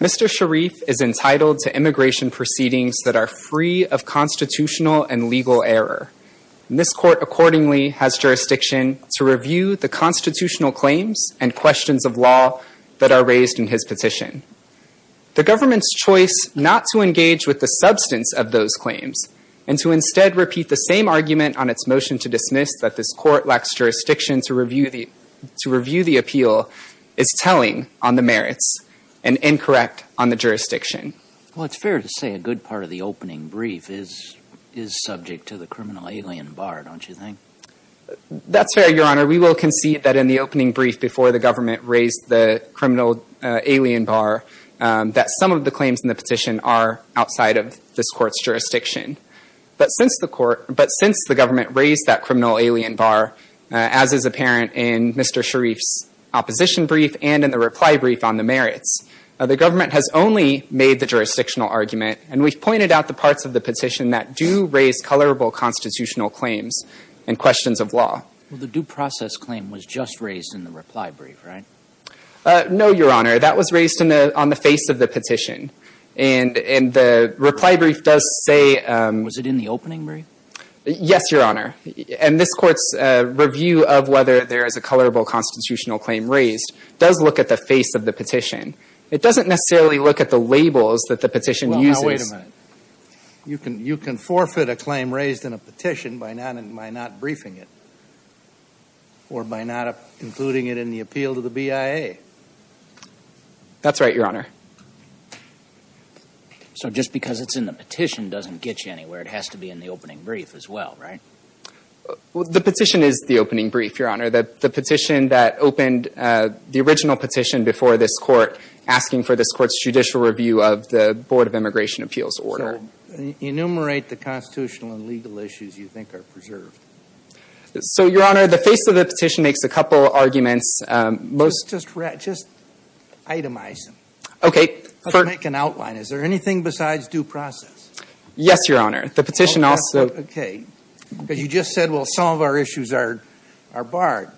Mr. Sharif is entitled to immigration proceedings that are free of constitutional and legal error. This court accordingly has jurisdiction to review the constitutional claims and questions of law that are raised in his petition. The government's choice not to engage with the substance of those claims and to instead repeat the same argument on its motion to dismiss that this court lacks jurisdiction to review the appeal is telling on the merits and incorrect on the jurisdiction. Well, it's fair to say a good part of the opening brief is subject to the criminal alien Barr, don't you think? That's fair, Your Honor. We will concede that in the opening brief before the government raised the criminal alien Barr that some of the claims in the petition are outside of this court's jurisdiction. But since the court, but since the government raised that criminal alien Barr, as is apparent in Mr. Sharif's opposition brief and in the reply brief on the merits, the government has only made the jurisdictional argument and we've pointed out the parts of the petition that do raise colorable constitutional claims and questions of law. Well, the due process claim was just raised in the reply brief, right? No, Your Honor. That was raised on the face of the petition. And the reply brief does say — Was it in the opening brief? Yes, Your Honor. And this Court's review of whether there is a colorable constitutional claim raised does look at the face of the petition. It doesn't necessarily look at the labels that the petition uses. Well, now, wait a minute. You can forfeit a claim raised in a petition by not briefing it. Or by not including it in the appeal to the BIA. That's right, Your Honor. So just because it's in the petition doesn't get you anywhere. It has to be in the opening brief as well, right? The petition is the opening brief, Your Honor. The petition that opened — the original petition before this Court asking for this Court's judicial review of the Board of Immigration Appeals order. So enumerate the constitutional and legal issues you think are preserved. So, Your Honor, the face of the petition makes a couple arguments. Just itemize them. Okay. Make an outline. Is there anything besides due process? Yes, Your Honor. The petition also — Okay. Because you just said, well, some of our issues are barred.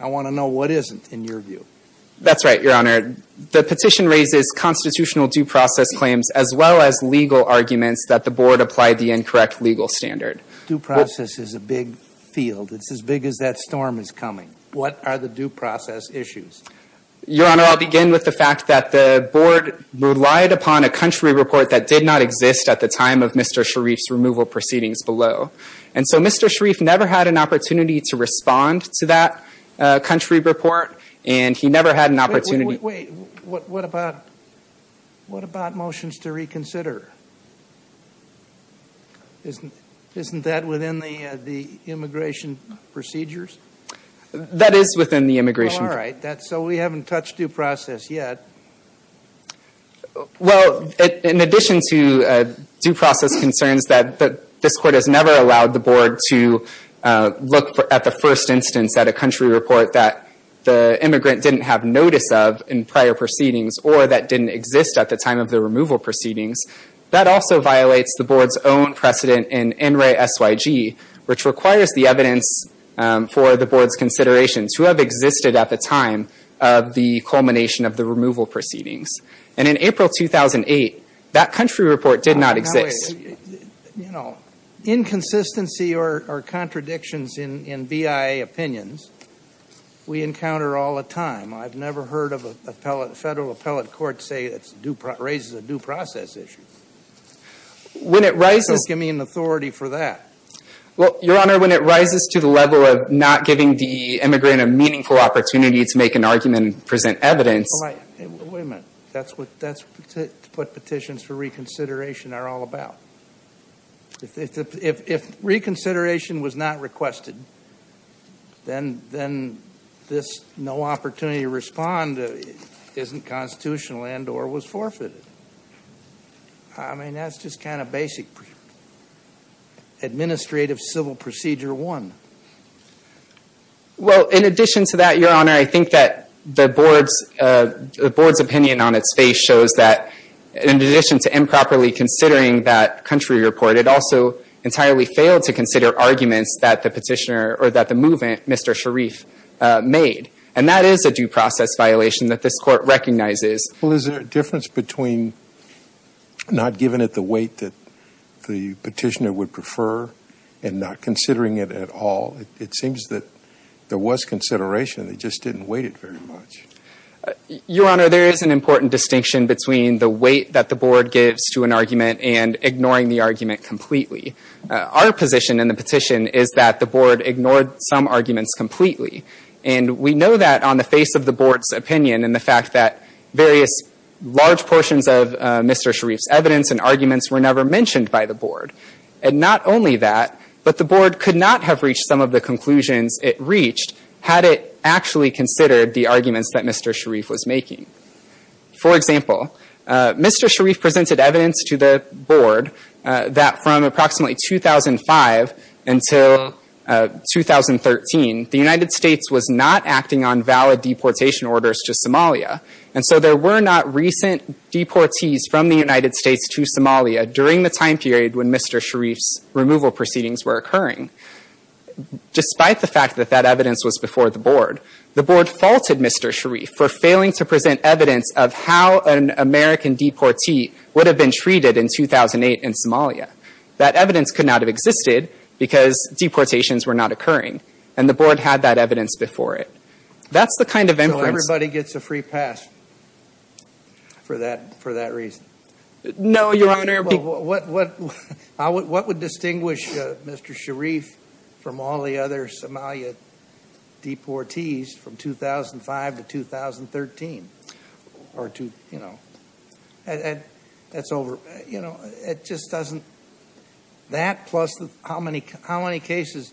I want to know what isn't in your view. That's right, Your Honor. The petition raises constitutional due process claims as well as legal arguments that the Board applied the incorrect legal standard. Due process is a big field. It's as big as that storm is coming. What are the due process issues? Your Honor, I'll begin with the fact that the Board relied upon a country report that did not exist at the time of Mr. Sharif's removal proceedings below. And so Mr. Sharif never had an opportunity to respond to that country report, and he never had an opportunity — Wait, wait, wait. What about — what about motions to reconsider? Isn't that within the immigration procedures? That is within the immigration — All right. So we haven't touched due process yet. Well, in addition to due process concerns that this Court has never allowed the Board to look at the first instance at a country report that the immigrant didn't have notice of in prior proceedings or that didn't exist at the time of the removal proceedings, that also violates the Board's own precedent in NRAY-SYG, which requires the evidence for the Board's considerations who have existed at the time of the culmination of the removal proceedings. And in April 2008, that country report did not exist. No, wait. You know, inconsistency or contradictions in BIA opinions we encounter all the time. I've never heard of a federal appellate court say it raises a due process issue. When it rises — So give me an authority for that. Well, Your Honor, when it rises to the level of not giving the immigrant a meaningful opportunity to make an argument and present evidence — All right. Wait a minute. That's what petitions for reconsideration are all about. If reconsideration was not requested, then this no opportunity to respond isn't constitutional and or was forfeited. I mean, that's just kind of basic administrative civil procedure one. Well, in addition to that, Your Honor, I think that the Board's opinion on its face shows that in addition to improperly considering that country report, it also entirely failed to consider arguments that the petitioner or that the movement, Mr. Sharif, made. And that is a due process violation that this Court recognizes. Well, is there a difference between not giving it the weight that the petitioner would prefer and not considering it at all? It seems that there was consideration. They just didn't weight it very much. Your Honor, there is an important distinction between the weight that the Board gives to an argument and ignoring the argument completely. Our position in the petition is that the Board ignored some arguments completely. And we know that on the face of the Board's opinion and the fact that various large portions of Mr. Sharif's evidence and arguments were never mentioned by the Board. And not only that, but the Board could not have reached some of the conclusions it reached had it actually considered the arguments that Mr. Sharif was making. For example, Mr. Sharif presented evidence to the Board that from approximately 2005 until 2013, the United States was not acting on valid deportation orders to Somalia. And so there were not recent deportees from the United States to Somalia during the time period when Mr. Sharif's removal proceedings were occurring. Despite the fact that that evidence was before the Board, the Board faulted Mr. Sharif for failing to present evidence of how an American deportee would have been treated in 2008 in Somalia. That evidence could not have existed because deportations were not occurring. And the Board had that evidence before it. That's the kind of inference- So everybody gets a free pass for that reason? No, Your Honor- What would distinguish Mr. Sharif from all the other Somalia deportees from 2005 to 2013? Or to, you know, that's over. You know, it just doesn't- That plus how many cases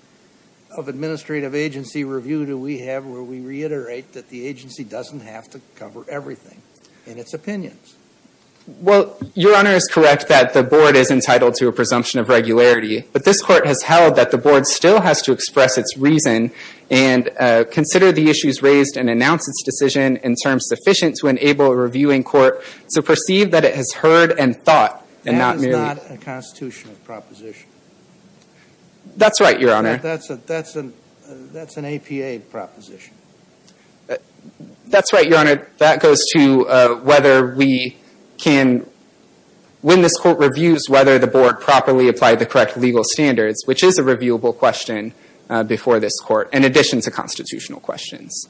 of administrative agency review do we have where we reiterate that the agency doesn't have to cover everything in its opinions? Well, Your Honor is correct that the Board is entitled to a presumption of regularity. But this Court has held that the Board still has to express its reason and consider the issues raised and announce its decision in terms sufficient to enable a reviewing court to perceive that it has heard and thought and not merely- That is not a constitutional proposition. That's right, Your Honor. That's an APA proposition. That's right, Your Honor. That goes to whether we can- When this Court reviews whether the Board properly applied the correct legal standards, which is a reviewable question before this Court in addition to constitutional questions.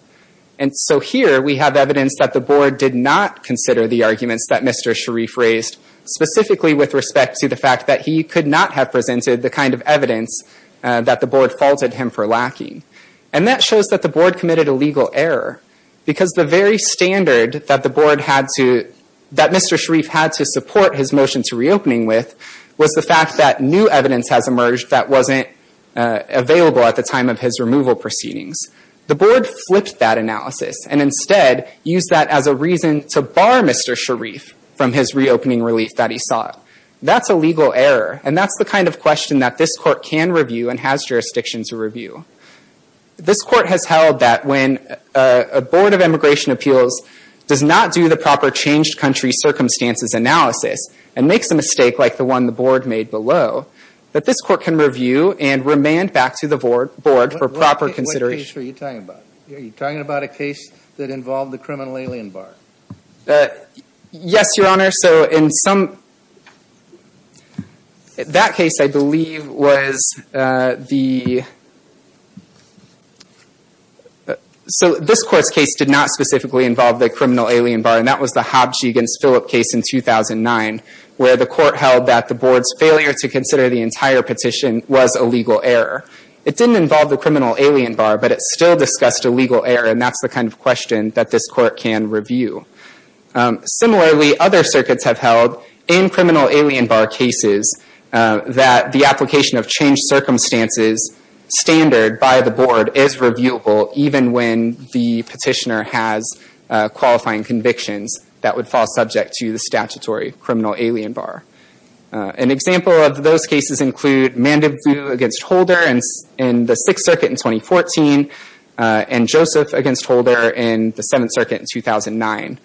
And so here we have evidence that the Board did not consider the arguments that Mr. Sharif raised specifically with respect to the fact that he could not have presented the kind of evidence that the Board faulted him for lacking. And that shows that the Board committed a legal error. Because the very standard that the Board had to- that Mr. Sharif had to support his motion to reopening with was the fact that new evidence has emerged that wasn't available at the time of his removal proceedings. The Board flipped that analysis and instead used that as a reason to bar Mr. Sharif from his reopening relief that he sought. That's a legal error. And that's the kind of question that this Court can review and has jurisdiction to review. This Court has held that when a Board of Immigration Appeals does not do the proper changed country circumstances analysis and makes a mistake like the one the Board made below, that this Court can review and remand back to the Board for proper consideration. What case were you talking about? Are you talking about a case that involved the criminal alien bar? Yes, Your Honor. So in some- that case, I believe, was the- so this Court's case did not specifically involve the criminal alien bar. And that was the Hobbs v. Philip case in 2009, where the Court held that the Board's failure to consider the entire petition was a legal error. It didn't involve the criminal alien bar, but it still discussed a legal error. And that's the kind of question that this Court can review. Similarly, other circuits have held, in criminal alien bar cases, that the application of changed circumstances standard by the Board is reviewable, even when the petitioner has qualifying convictions that would fall subject to the statutory criminal alien bar. An example of those cases include Mandeville v. Holder in the Sixth Circuit in 2014, and Joseph v. Holder in the Seventh Circuit in 2009.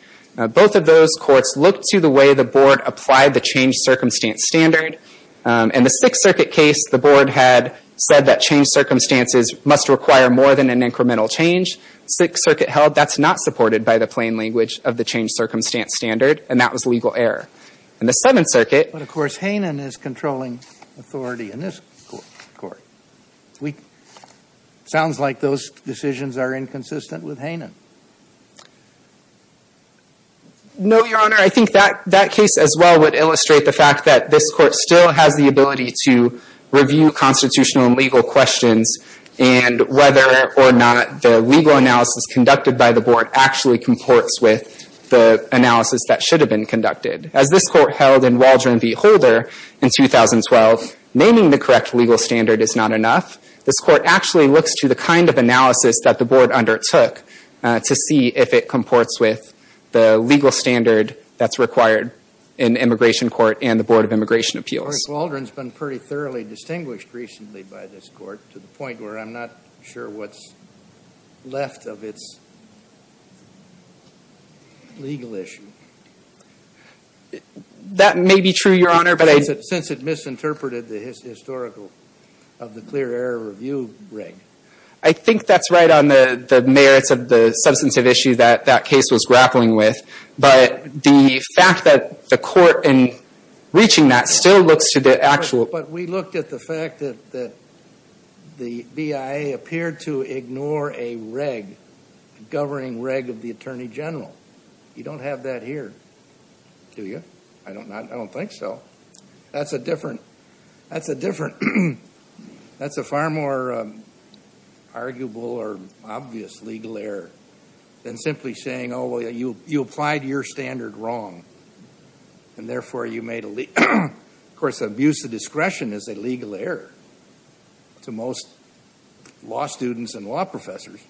Both of those courts looked to the way the Board applied the changed circumstance standard. In the Sixth Circuit case, the Board had said that changed circumstances must require more than an incremental change. Sixth Circuit held that's not supported by the plain language of the changed circumstance standard, and that was a legal error. In the Seventh Circuit- But of course, Hanen is controlling authority in this Court. Sounds like those decisions are inconsistent with Hanen. No, Your Honor. I think that case as well would illustrate the fact that this Court still has the ability to review constitutional and legal questions, and whether or not the legal analysis conducted by the Board actually comports with the analysis that should have been conducted. As this Court held in Waldron v. Holder in 2012, naming the correct legal standard is not enough. This Court actually looks to the kind of analysis that the Board undertook to see if it comports with the legal standard that's required in the Immigration Court and the Board of Immigration Appeals. Waldron's been pretty thoroughly distinguished recently by this Court, to the point where I'm not sure what's left of its legal issue. That may be true, Your Honor, but I- Since it misinterpreted the historical of the clear error review reg. I think that's right on the merits of the substantive issue that that case was grappling with, but the fact that the Court, in reaching that, still looks to the actual- But we looked at the fact that the BIA appeared to ignore a reg, governing reg of the Attorney General. You don't have that here, do you? I don't think so. That's a different- That's a far more arguable or obvious legal error than simply saying, oh, well, you applied your standard wrong, and therefore you made a- Of course, abuse of discretion is a legal error to most law students and law professors.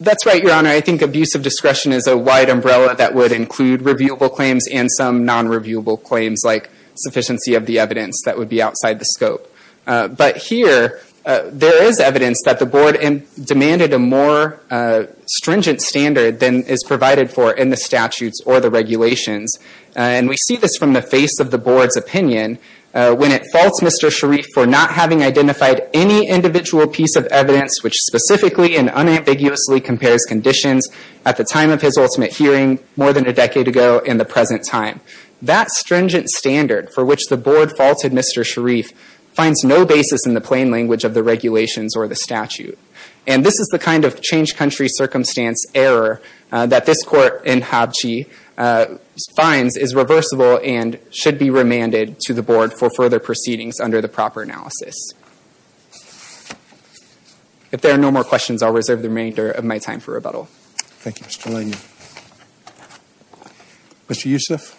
That's right, Your Honor. I think abuse of discretion is a wide umbrella that would include reviewable claims and some non-reviewable claims like sufficiency of the evidence that would be outside the scope. But here, there is evidence that the Board demanded a more stringent standard than is provided for in the statutes or the regulations. We see this from the face of the Board's opinion. When it faults Mr. Sharif for not having identified any individual piece of evidence which specifically and unambiguously compares conditions at the time of his ultimate hearing, more than a decade ago, in the present time, that stringent standard for which the Board faulted Mr. Sharif finds no basis in the plain language of the regulations or the statute. And this is the kind of change-country-circumstance error that this Court in Habchi finds is reversible and should be remanded to the Board for further proceedings under the proper analysis. If there are no more questions, I'll reserve the remainder of my time for rebuttal. Thank you, Mr. Lanyon. Mr. Youssef? Mr. Youssef?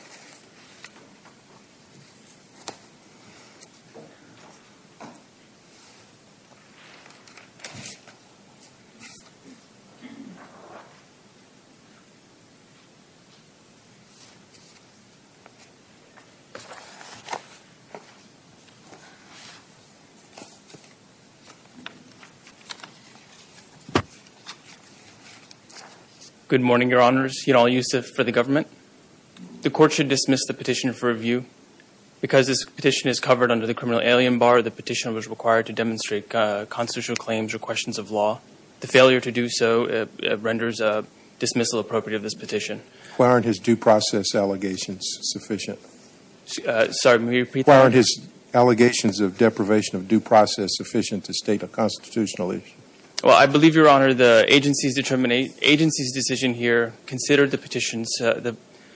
Good morning, Your Honors. Yanal Youssef for the government. The Court should dismiss the petition for review. Because this petition is covered under the criminal alien bar, the petition was required to demonstrate constitutional claims or questions of law. The failure to do so renders a dismissal appropriate of this petition. Why aren't his due process allegations sufficient? Sorry, may you repeat that? Why aren't his allegations of deprivation of due process sufficient to state a constitutional issue? Well, I believe, Your Honor, the agency's decision here considered the petitions, the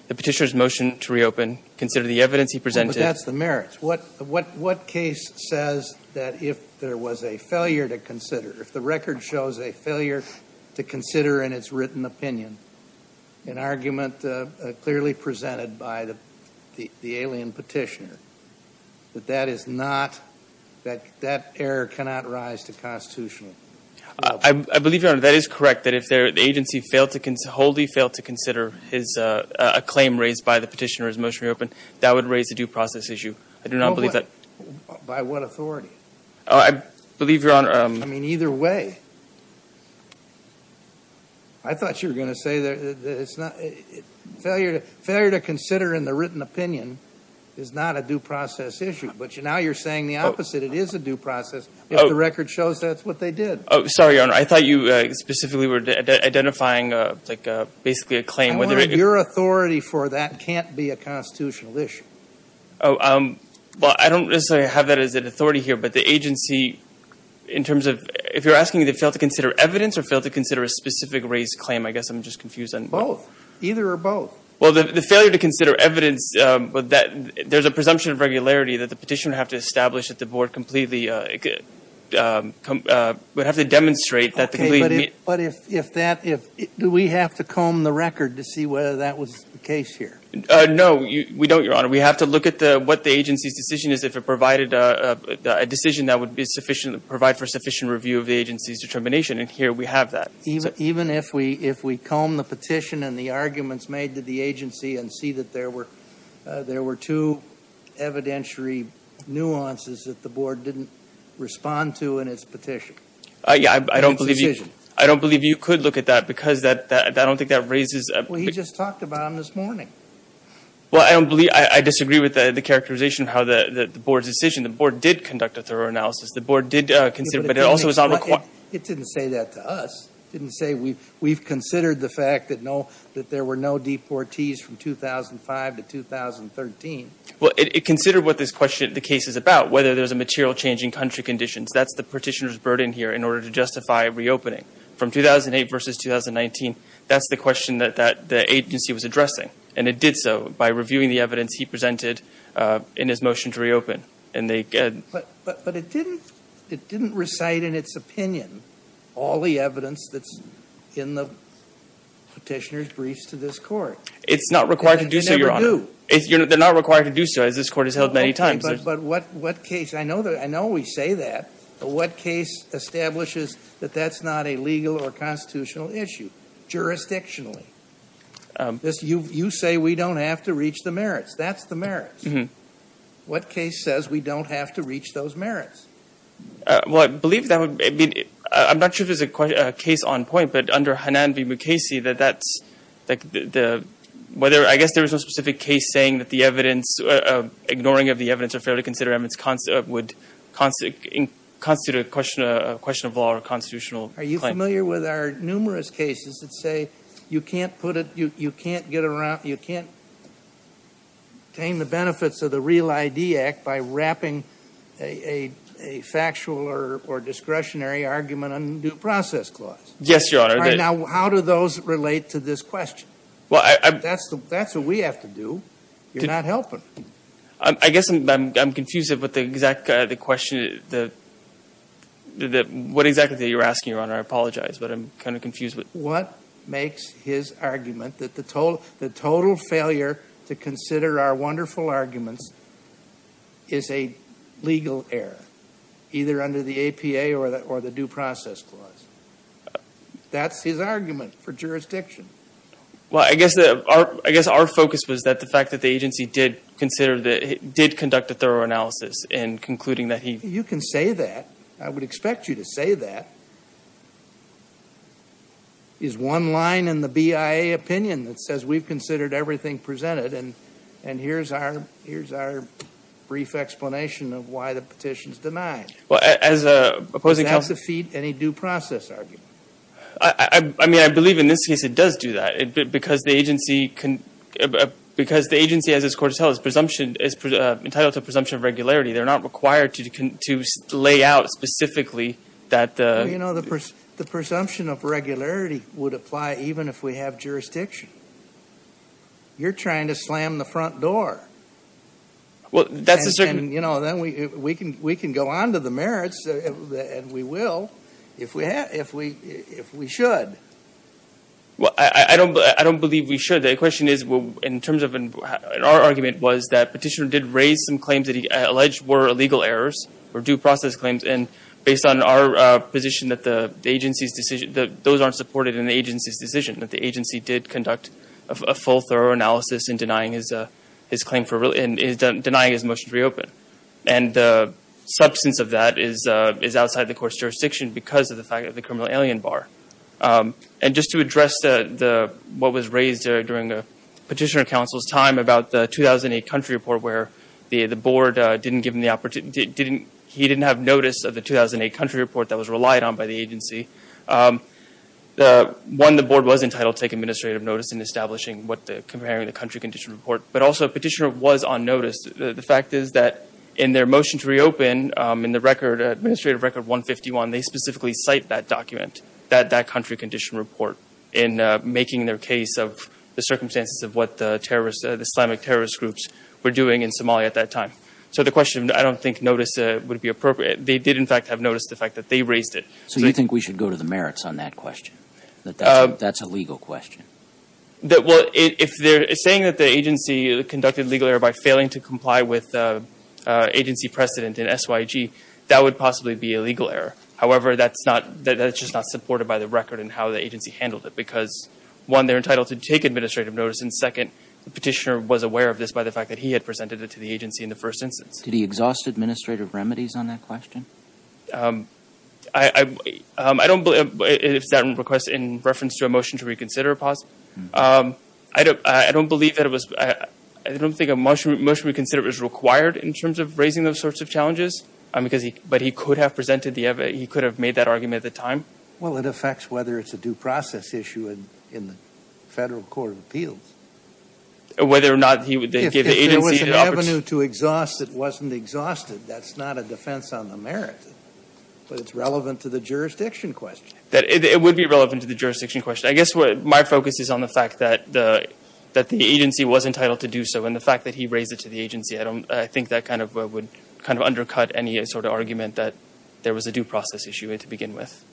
petitioner's motion to reopen, consider the evidence he presented. But that's the merits. What case says that if there was a failure to consider, if the record shows a failure to consider in its written opinion, an argument clearly presented by the alien petitioner, that that is not, that that error cannot rise to constitutional. I believe, Your Honor, that is correct. That if the agency wholly failed to consider a claim raised by the petitioner's motion to reopen, that would raise a due process issue. I do not believe that. By what authority? I believe, Your Honor. I mean, either way. I thought you were going to say that it's not, failure to consider in the written opinion is not a due process issue. But now you're saying the opposite. It is a due process if the record shows that's what they did. Sorry, Your Honor. I thought you specifically were identifying, like, basically a claim. I wanted your authority for that can't be a constitutional issue. Well, I don't necessarily have that as an authority here. But the agency, in terms of, if you're asking me to fail to consider evidence or fail to consider a specific raised claim, I guess I'm just confused. Both. Either or both. Well, the failure to consider evidence, there's a presumption of regularity that the petitioner would have to establish that the board completely, would have to demonstrate that. OK, but if that, do we have to comb the record to see whether that was the case here? No, we don't, Your Honor. We have to look at what the agency's decision is, if it provided a decision that would be sufficient, provide for sufficient review of the agency's determination. And here we have that. Even if we comb the petition and the arguments made to the agency and see that there were two evidentiary nuances that the board didn't respond to in its petition. Yeah, I don't believe you could look at that, because I don't think that raises a... Well, he just talked about them this morning. Well, I disagree with the characterization of how the board's decision, the board did conduct a thorough analysis. The board did consider, but it also was not required... It didn't say that to us. Didn't say, we've considered the fact that no, that there were no deportees from 2005 to 2013. Well, it considered what this question, the case is about, whether there's a material change in country conditions. That's the petitioner's burden here in order to justify reopening. From 2008 versus 2019, that's the question that the agency was addressing. And it did so by reviewing the evidence he presented in his motion to reopen. But it didn't recite in its opinion all the evidence that's in the petitioner's briefs to this court. It's not required to do so, Your Honor. They're not required to do so, as this court has held many times. But what case... I know we say that, but what case establishes that that's not a legal or constitutional issue, jurisdictionally? That's the merits. What case says we don't have to reach those merits? Well, I believe that would be... I'm not sure if there's a case on point, but under Hanan v. Mukasey, that that's... I guess there was no specific case saying that the evidence, ignoring of the evidence of failure to consider amendments would constitute a question of law or constitutional claim. Are you familiar with our numerous cases that say, you can't get around... Obtain the benefits of the REAL ID Act by wrapping a factual or discretionary argument on due process clause. Yes, Your Honor. Now, how do those relate to this question? That's what we have to do. You're not helping. I guess I'm confused with the exact question... What exactly you're asking, Your Honor. I apologize, but I'm kind of confused. What makes his argument that the total failure to consider our wonderful arguments is a legal error, either under the APA or the due process clause? That's his argument for jurisdiction. Well, I guess our focus was that the fact that the agency did consider the... Did conduct a thorough analysis and concluding that he... You can say that. I would expect you to say that. Is one line in the BIA opinion that says we've considered everything presented and here's our brief explanation of why the petition's denied. Well, as a... Does that defeat any due process argument? I mean, I believe in this case it does do that because the agency can... Because the agency, as it's court to tell, is entitled to a presumption of regularity. They're not required to lay out specifically that... The presumption of regularity would apply even if we have jurisdiction. You're trying to slam the front door. Well, that's a certain... Then we can go on to the merits, and we will if we should. Well, I don't believe we should. The question is, in terms of... Our argument was that petitioner did raise some claims that he alleged were illegal errors or due process claims. And based on our position that the agency's decision... Those aren't supported in the agency's decision that the agency did conduct a full thorough analysis in denying his motion to reopen. And the substance of that is outside the court's jurisdiction because of the fact of the criminal alien bar. And just to address what was raised during the petitioner counsel's time about the 2008 country report where the board didn't give him the opportunity... He didn't have notice of the 2008 country report that was relied on by the agency. One, the board was entitled to take administrative notice in establishing what the... Comparing the country condition report. But also, petitioner was on notice. The fact is that in their motion to reopen, in the administrative record 151, they specifically cite that document, that country condition report, in making their case of the circumstances of what the terrorist... The Islamic terrorist groups were doing in Somalia at that time. So the question, I don't think notice would be appropriate. They did, in fact, have noticed the fact that they raised it. So you think we should go to the merits on that question? That that's a legal question? That... Well, if they're saying that the agency conducted legal error by failing to comply with agency precedent in SYG, that would possibly be a legal error. However, that's not... That's just not supported by the record and how the agency handled it. Because one, they're entitled to take administrative notice. And second, the petitioner was aware of this by the fact that he had presented it to the agency in the first instance. Did he exhaust administrative remedies on that question? I don't believe... It's that request in reference to a motion to reconsider. I don't believe that it was... I don't think a motion to reconsider is required in terms of raising those sorts of challenges. But he could have presented the... He could have made that argument at the time. Well, it affects whether it's a due process issue in the Federal Court of Appeals. Whether or not he would give the agency... If there was an avenue to exhaust that wasn't exhausted, that's not a defense on the merits. But it's relevant to the jurisdiction question. It would be relevant to the jurisdiction question. I guess my focus is on the fact that the agency was entitled to do so. And the fact that he raised it to the agency, I think that would undercut any sort of argument that there was a due process issue to begin with.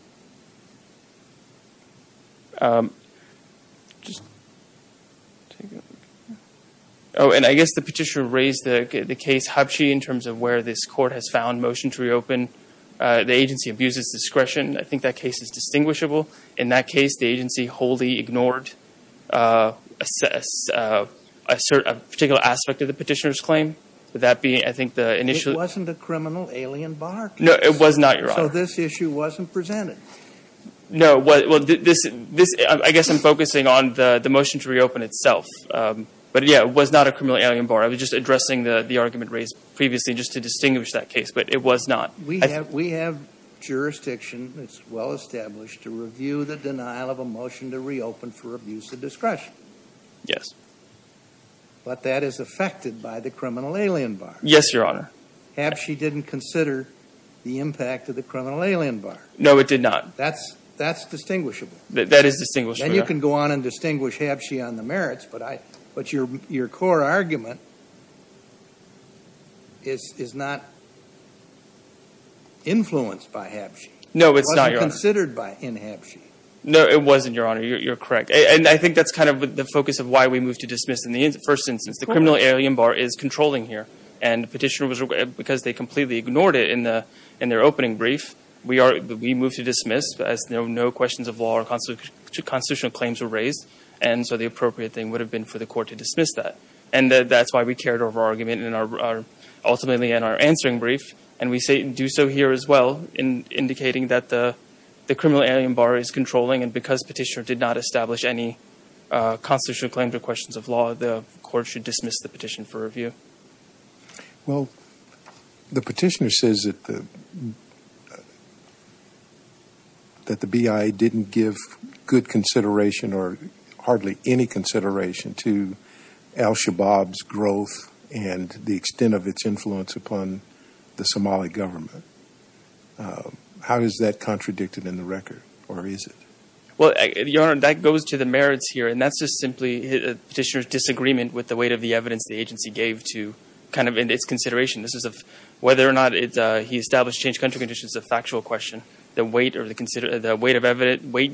Oh, and I guess the petitioner raised the case Habchi in terms of where this court has found motion to reopen. The agency abuses discretion. I think that case is distinguishable. In that case, the agency wholly ignored a particular aspect of the petitioner's claim. That being, I think the initial... It wasn't a criminal alien bar case. No, it was not, Your Honor. So this issue wasn't presented. No, well, I guess I'm focusing on the motion to reopen itself. But yeah, it was not a criminal alien bar. I was just addressing the argument raised previously just to distinguish that case. But it was not. We have jurisdiction, it's well established, to review the denial of a motion to reopen for abuse of discretion. Yes. But that is affected by the criminal alien bar. Yes, Your Honor. Habchi didn't consider the impact of the criminal alien bar. No, it did not. That's distinguishable. That is distinguishable. Then you can go on and distinguish Habchi on the merits. But your core argument is not influenced by Habchi. No, it's not, Your Honor. It wasn't considered by Habchi. No, it wasn't, Your Honor. You're correct. And I think that's kind of the focus of why we moved to dismiss in the first instance. The criminal alien bar is controlling here. And the petitioner, because they completely ignored it in their opening brief, we moved to dismiss as no questions of law or constitutional claims were raised. And so the appropriate thing would have been for the court to dismiss that. And that's why we carried over our argument ultimately in our answering brief. And we do so here as well in indicating that the criminal alien bar is controlling. And because petitioner did not establish any constitutional claims or questions of law, the court should dismiss the petition for review. Well, the petitioner says that the BIA didn't give good consideration or hardly any consideration to al-Shabaab's growth and the extent of its influence upon the Somali government. How is that contradicted in the record, or is it? Well, Your Honor, that goes to the merits here. And that's just simply petitioner's disagreement with the weight of the evidence the agency gave to kind of in its consideration. This is of whether or not he established changed country conditions is a factual question. The weight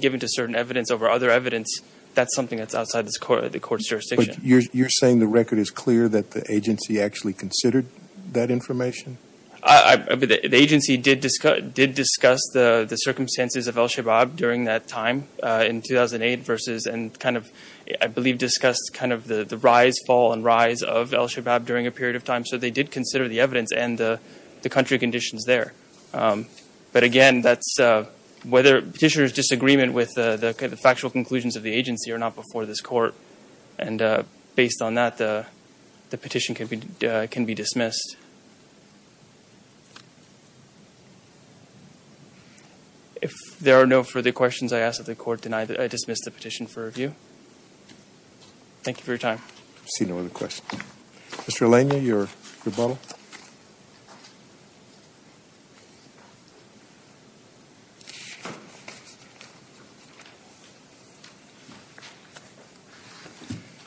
given to certain evidence over other evidence, that's something that's outside the court's jurisdiction. But you're saying the record is clear that the agency actually considered that information? I mean, the agency did discuss the circumstances of al-Shabaab during that time in 2008 versus and kind of, I believe, discussed kind of the rise, fall, and rise of al-Shabaab during a period of time. So they did consider the evidence and the country conditions there. But again, that's whether petitioner's disagreement with the factual conclusions of the agency are not before this court. And based on that, the petition can be dismissed. If there are no further questions I ask of the court, then I dismiss the petition for review. Thank you for your time. I see no other questions. Mr. Alenia, your rebuttal.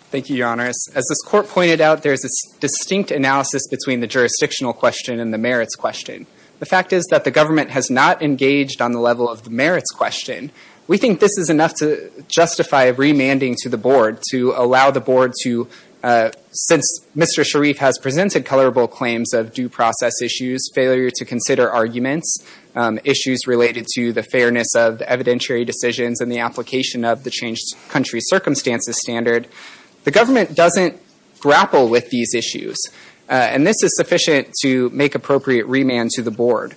Thank you, Your Honor. As this court pointed out, there's a distinct analysis between the jurisdictional question and the merits question. The fact is that the government has not engaged on the level of the merits question. We think this is enough to justify remanding to the board to allow the board to, since Mr. Sharif has presented colorable claims of due process issues, failure to consider arguments, issues related to the fairness of the evidentiary decisions and the application of the changed country circumstances standard. The government doesn't grapple with these issues. And this is sufficient to make appropriate remand to the board.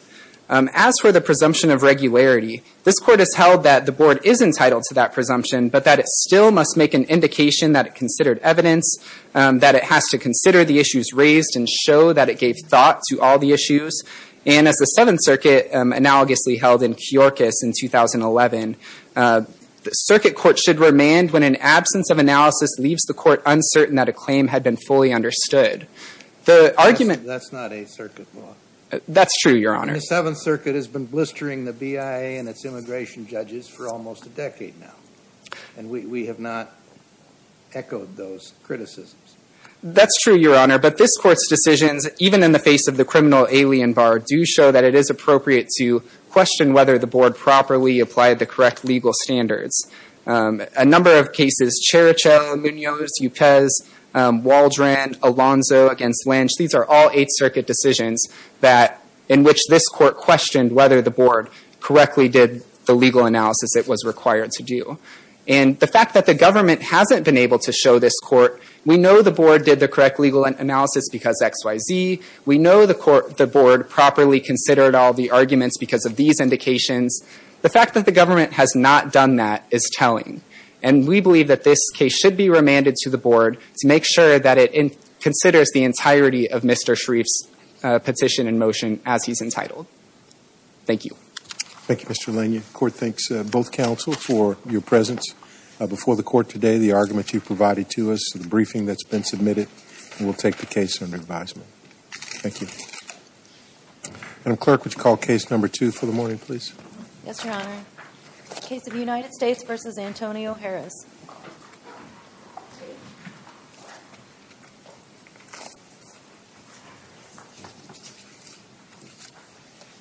As for the presumption of regularity, this court has held that the board is entitled to that presumption, but that it still must make an indication that it considered evidence, that it has to consider the issues raised and show that it gave thought to all the issues. And as the Seventh Circuit analogously held in Kyorkos in 2011, the circuit court should remand when an absence of analysis leaves the court uncertain that a claim had been fully understood. The argument- That's not a circuit law. That's true, Your Honor. The Seventh Circuit has been blistering the BIA and its immigration judges for almost a decade now. And we have not echoed those criticisms. That's true, Your Honor. But this court's decisions, even in the face of the criminal alien bar, do show that it is appropriate to question whether the board properly applied the correct legal standards. A number of cases, Chericho, Munoz, Upez, Waldron, Alonzo against Lynch, these are all Eighth Circuit decisions in which this court questioned whether the board correctly did the legal analysis it was required to do. And the fact that the government hasn't been able to show this court, we know the board did the correct legal analysis because X, Y, Z. We know the board properly considered all the arguments because of these indications. The fact that the government has not done that is telling. And we believe that this case should be remanded to the board to make sure that it considers the entirety of Mr. Sharif's petition in motion as he's entitled. Thank you. Thank you, Mr. Lania. Court thanks both counsel for your presence before the court today, the argument you provided to us, the briefing that's been submitted. We'll take the case under advisement. Thank you. Madam Clerk, would you call case number two for the morning, please? Yes, Your Honor. Case of United States v. Antonio Harris.